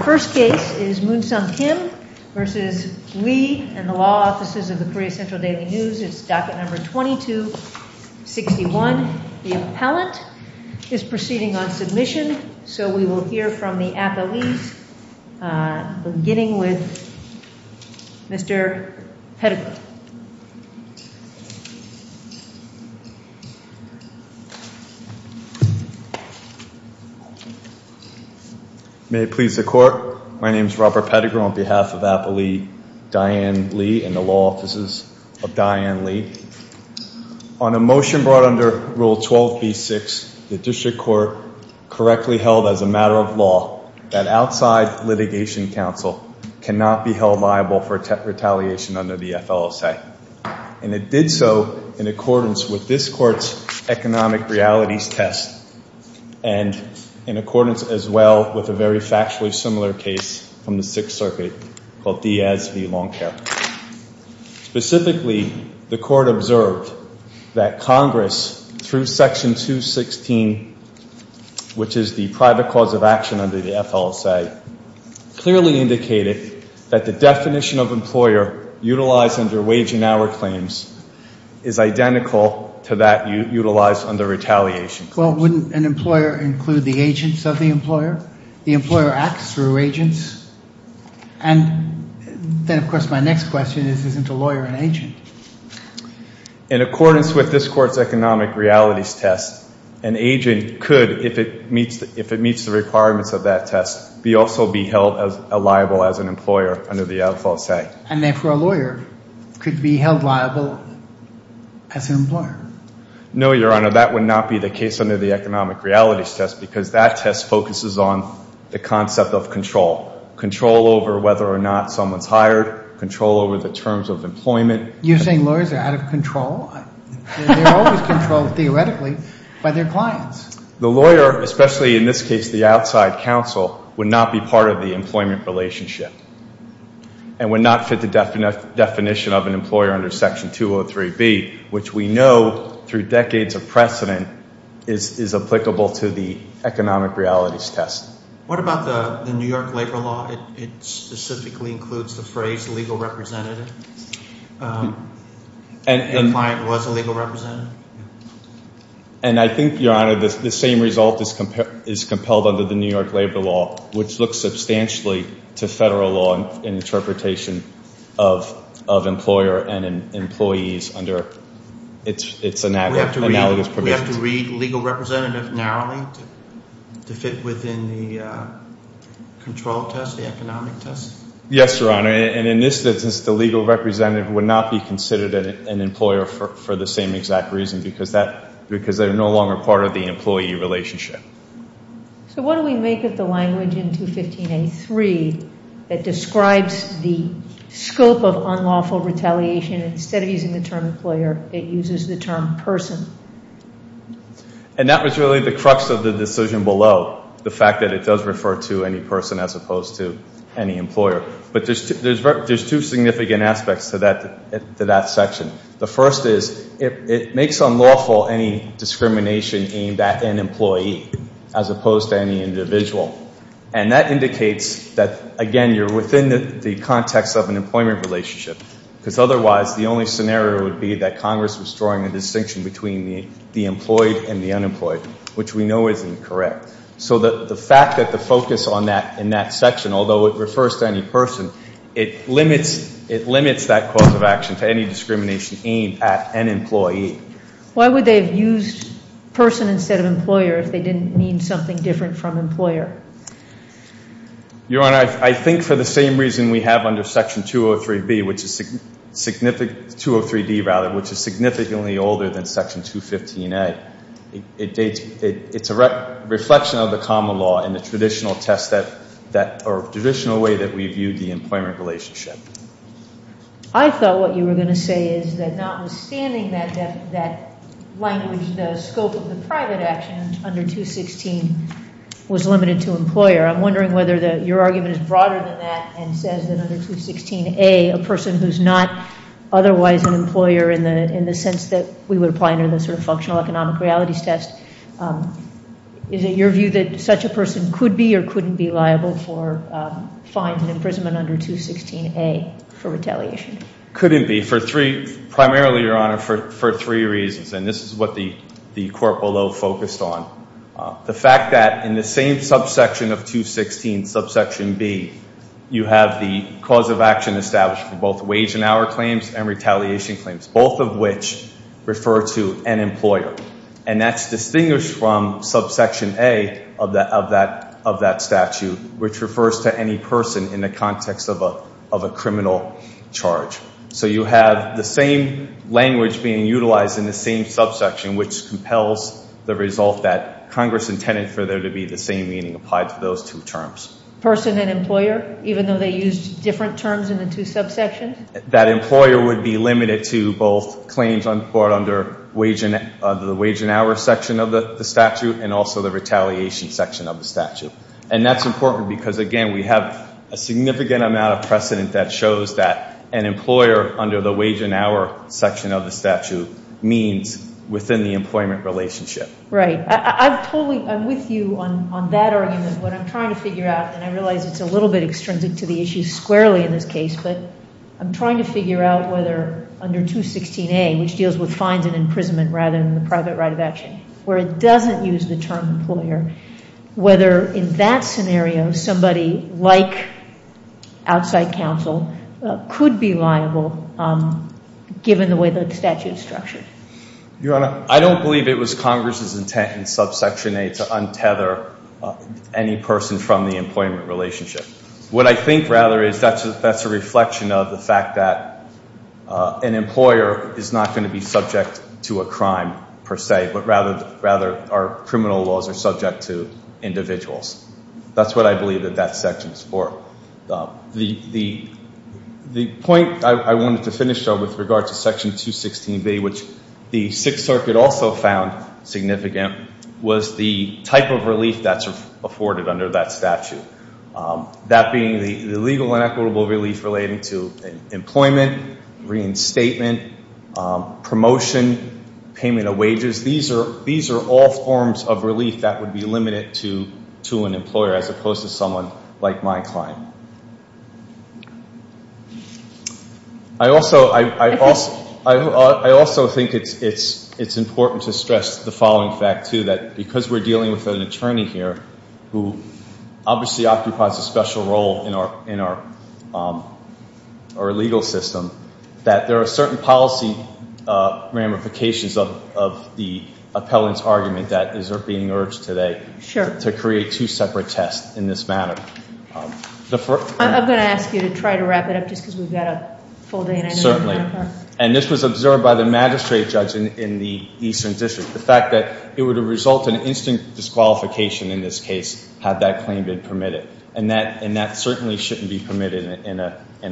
Our first case is Moonsung Kim v. Lee and the Law Offices of the Korea Central Daily News. It's docket number 2261. The appellant is proceeding on submission. So we will hear from the appellees beginning with Mr. Pettigrew. May it please the court, my name is Robert Pettigrew on behalf of Appellee Diane Lee and the Law Offices of Diane Lee. On a motion brought under Rule 12b-6, the District Court correctly held as a matter of law that outside litigation counsel cannot be held liable for retaliation under the FLSA. And it did so in accordance with this court's economic realities test and in accordance as well with a very factually similar case from the Sixth Circuit called Diaz v. Long Chair. Specifically, the court observed that Congress, through Section 216, which is the private cause of action under the FLSA, clearly indicated that the definition of employer utilized under wage and hour claims is identical to that utilized under retaliation. Well, wouldn't an employer include the agents of the employer? The employer acts through agents? And then, of course, my next question is, isn't a lawyer an agent? In accordance with this court's economic realities test, an agent could, if it meets the requirements of that test, also be held liable as an employer under the FLSA. And therefore, a lawyer could be held liable as an employer? No, Your Honor, that would not be the case under the economic realities test because that test focuses on the concept of control, control over whether or not someone's hired, control over the terms of employment. You're saying lawyers are out of control? They're always controlled, theoretically, by their clients. The lawyer, especially in this case, the outside counsel, would not be part of the employment relationship and would not fit the definition of an employer under Section 203B, which we know, through decades of precedent, is applicable to the economic realities test. What about the New York labor law? It specifically includes the phrase legal representative. The client was a legal representative. And I think, Your Honor, the same result is compelled under the New York labor law, which looks substantially to federal law and interpretation of employer and employees under its analogous provisions. Do we have to read legal representative narrowly to fit within the control test, the economic test? Yes, Your Honor. And in this instance, the legal representative would not be considered an employer for the same exact reason because they're no longer part of the employee relationship. So what do we make of the language in 215A3 that describes the scope of unlawful retaliation? And instead of using the term employer, it uses the term person. And that was really the crux of the decision below, the fact that it does refer to any person as opposed to any employer. But there's two significant aspects to that section. The first is it makes unlawful any discrimination aimed at an employee as opposed to any individual. And that indicates that, again, you're within the context of an employment relationship because otherwise the only scenario would be that Congress was drawing a distinction between the employed and the unemployed, which we know isn't correct. So the fact that the focus on that in that section, although it refers to any person, it limits that cause of action to any discrimination aimed at an employee. Why would they have used person instead of employer if they didn't mean something different from employer? Your Honor, I think for the same reason we have under Section 203B, which is significant, 203D rather, which is significantly older than Section 215A. It's a reflection of the common law and the traditional test that, or traditional way that we viewed the employment relationship. I thought what you were going to say is that notwithstanding that language, the scope of the private action under 216 was limited to employer. I'm wondering whether your argument is broader than that and says that under 216A, a person who's not otherwise an employer in the sense that we would apply under the sort of functional economic realities test. Is it your view that such a person could be or couldn't be liable for fines and imprisonment under 216A for retaliation? Couldn't be for three, primarily, Your Honor, for three reasons. And this is what the court below focused on. The fact that in the same subsection of 216, subsection B, you have the cause of action established for both wage and hour claims and retaliation claims, both of which refer to an employer. And that's distinguished from subsection A of that statute, which refers to any person in the context of a criminal charge. So you have the same language being utilized in the same subsection, which compels the result that Congress intended for there to be the same meaning applied to those two terms. Person and employer, even though they used different terms in the two subsections? That employer would be limited to both claims under the wage and hour section of the statute and also the retaliation section of the statute. And that's important because, again, we have a significant amount of precedent that shows that an employer under the wage and hour section of the statute means within the employment relationship. Right. I'm with you on that argument. What I'm trying to figure out, and I realize it's a little bit extrinsic to the issues squarely in this case, but I'm trying to figure out whether under 216A, which deals with fines and imprisonment rather than the private right of action, where it doesn't use the term employer, whether in that scenario somebody like outside counsel could be liable given the way the statute is structured? Your Honor, I don't believe it was Congress's intent in subsection A to untether any person from the employment relationship. What I think, rather, is that's a reflection of the fact that an employer is not going to be subject to a crime, per se, but rather are criminal laws are subject to individuals. That's what I believe that that section is for. The point I wanted to finish on with regard to section 216B, which the Sixth Circuit also found significant, was the type of relief that's afforded under that statute. That being the legal and equitable relief relating to employment, reinstatement, promotion, payment of wages. These are all forms of relief that would be limited to an employer, as opposed to someone like my client. I also think it's important to stress the following fact, too, that because we're dealing with an attorney here, who obviously occupies a special role in our legal system, that there are certain policy ramifications of the appellant's argument that is being urged today to create two separate tests in this matter. I'm going to ask you to try to wrap it up, just because we've got a full day. Certainly. And this was observed by the magistrate judge in the Eastern District. The fact that it would result in instant disqualification in this case, had that claim been permitted. And that certainly shouldn't be permitted in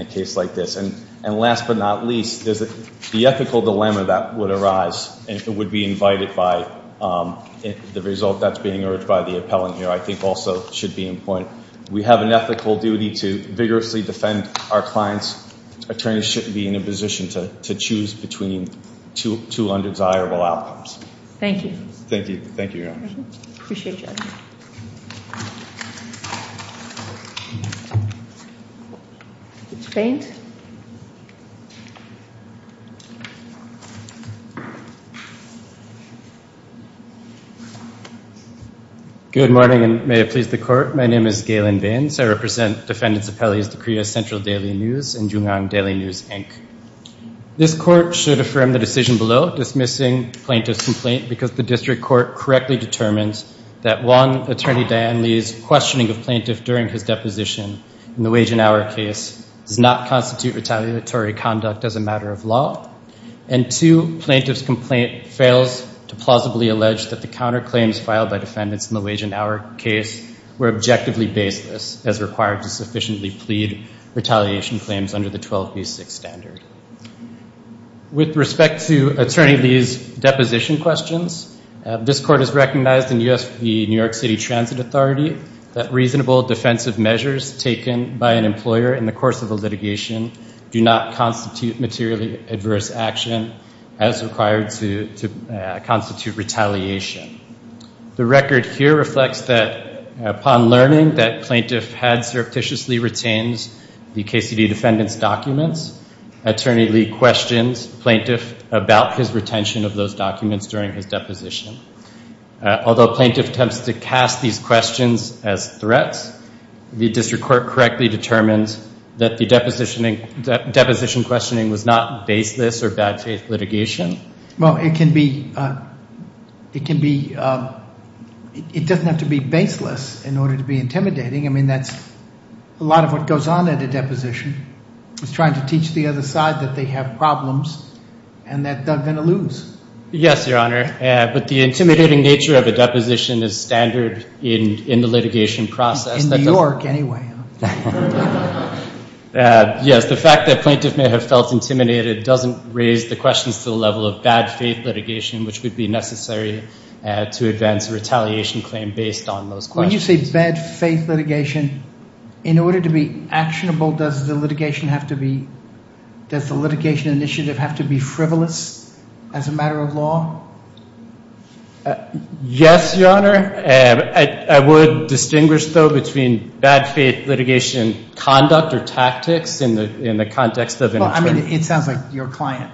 a case like this. And last but not least, the ethical dilemma that would arise, and it would be invited by the result that's being urged by the appellant here, I think also should be in point. We have an ethical duty to vigorously defend our clients. Attorneys shouldn't be in a position to choose between two undesirable outcomes. Thank you. Thank you. Thank you, Your Honor. Appreciate you. Thank you, Your Honor. Mr. Baines? Good morning, and may it please the court. My name is Galen Baines. I represent defendants appellees to Korea Central Daily News and Jungang Daily News, Inc. This court should affirm the decision below, dismissing plaintiff's complaint, because the district court correctly determines that one, Attorney Diane Lee's questioning of plaintiff during his deposition in the Wage and Hour case does not constitute retaliatory conduct as a matter of law. And two, plaintiff's complaint fails to plausibly allege that the counterclaims filed by defendants in the Wage and Hour case were objectively baseless, as required to sufficiently plead retaliation claims under the 12b6 standard. With respect to Attorney Lee's deposition questions, this court has recognized in the New York City Transit Authority that reasonable defensive measures taken by an employer in the course of a litigation do not constitute materially adverse action as required to constitute retaliation. The record here reflects that upon learning that plaintiff had surreptitiously retained the KCD defendant's documents, Attorney Lee questions plaintiff about his retention of those documents during his deposition. Although plaintiff attempts to cast these questions as threats, the district court correctly determines that the deposition questioning was not baseless or bad faith litigation. Well, it can be, it doesn't have to be baseless in order to be intimidating. I mean, that's a lot of what goes on at a deposition, is trying to teach the other side that they have problems and that they're going to lose. Yes, Your Honor, but the intimidating nature of a deposition is standard in the litigation process. In New York anyway. Yes, the fact that plaintiff may have felt intimidated doesn't raise the questions to the level of bad faith litigation, which would be necessary to advance a retaliation claim based on those questions. When you say bad faith litigation, in order to be actionable, does the litigation initiative have to be frivolous as a matter of law? Yes, Your Honor. I would distinguish, though, between bad faith litigation conduct or tactics in the context of an attorney. Well, I mean, it sounds like your client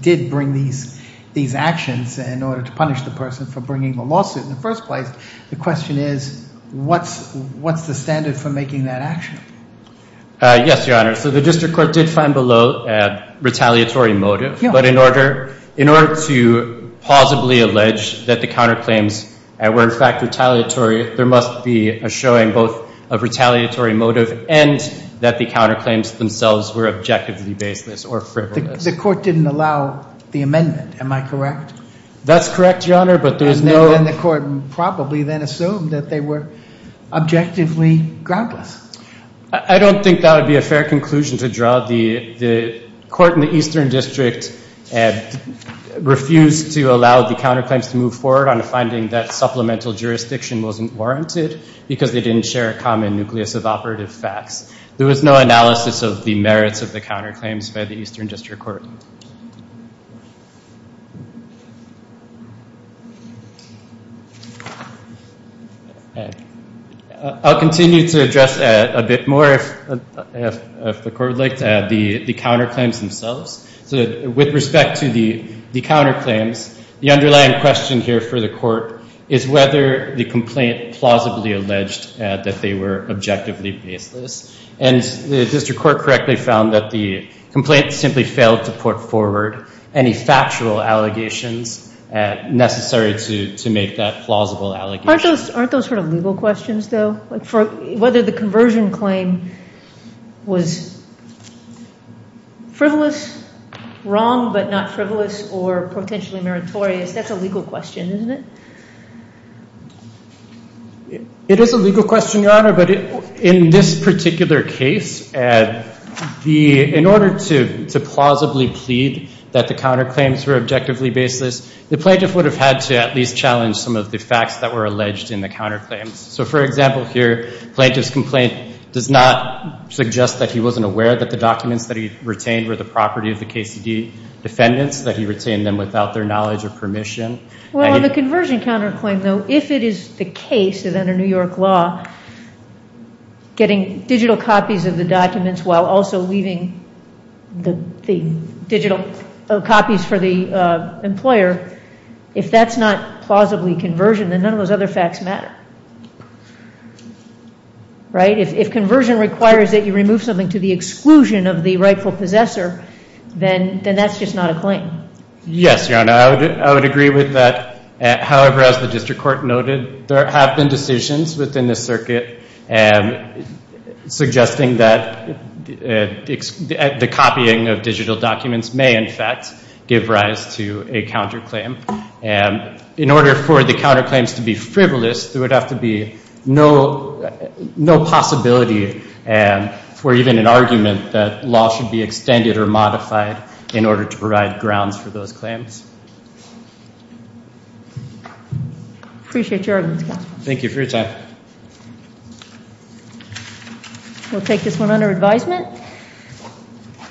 did bring these actions in order to punish the person for bringing the lawsuit in the first place. The question is, what's the standard for making that action? Yes, Your Honor. So the district court did find below a retaliatory motive, but in order to plausibly allege that the counterclaims were, in fact, retaliatory, there must be a showing both of retaliatory motive and that the counterclaims themselves were objectively baseless or frivolous. The court didn't allow the amendment, am I correct? That's correct, Your Honor, but there's no— they probably then assumed that they were objectively groundless. I don't think that would be a fair conclusion to draw. The court in the Eastern District refused to allow the counterclaims to move forward on a finding that supplemental jurisdiction wasn't warranted because they didn't share a common nucleus of operative facts. There was no analysis of the merits of the counterclaims by the Eastern District Court. I'll continue to address that a bit more if the court would like to add the counterclaims themselves. So with respect to the counterclaims, the underlying question here for the court is whether the complaint plausibly alleged that they were objectively baseless. And the district court correctly found that the complaint simply failed to put forward any factual allegations necessary to make that plausible allegation. Aren't those sort of legal questions, though? Whether the conversion claim was frivolous, wrong but not frivolous, or potentially meritorious, that's a legal question, isn't it? It is a legal question, Your Honor, but in this particular case, in order to plausibly plead that the counterclaims were objectively baseless, the plaintiff would have had to at least challenge some of the facts that were alleged in the counterclaims. So for example here, the plaintiff's complaint does not suggest that he wasn't aware that the documents that he retained were the property of the KCD defendants, that he retained them without their knowledge or permission. Well, on the conversion counterclaim, though, if it is the case that under New York law, getting digital copies of the documents while also leaving the digital copies for the employer, if that's not plausibly conversion, then none of those other facts matter. If conversion requires that you remove something to the exclusion of the rightful possessor, then that's just not a claim. Yes, Your Honor, I would agree with that. However, as the district court noted, there have been decisions within the circuit suggesting that the copying of digital documents may, in fact, give rise to a counterclaim. In order for the counterclaims to be frivolous, there would have to be no possibility for even an argument that law should be extended or modified in order to provide grounds for those claims. Appreciate your arguments, counsel. Thank you for your time. We'll take this one under advisement.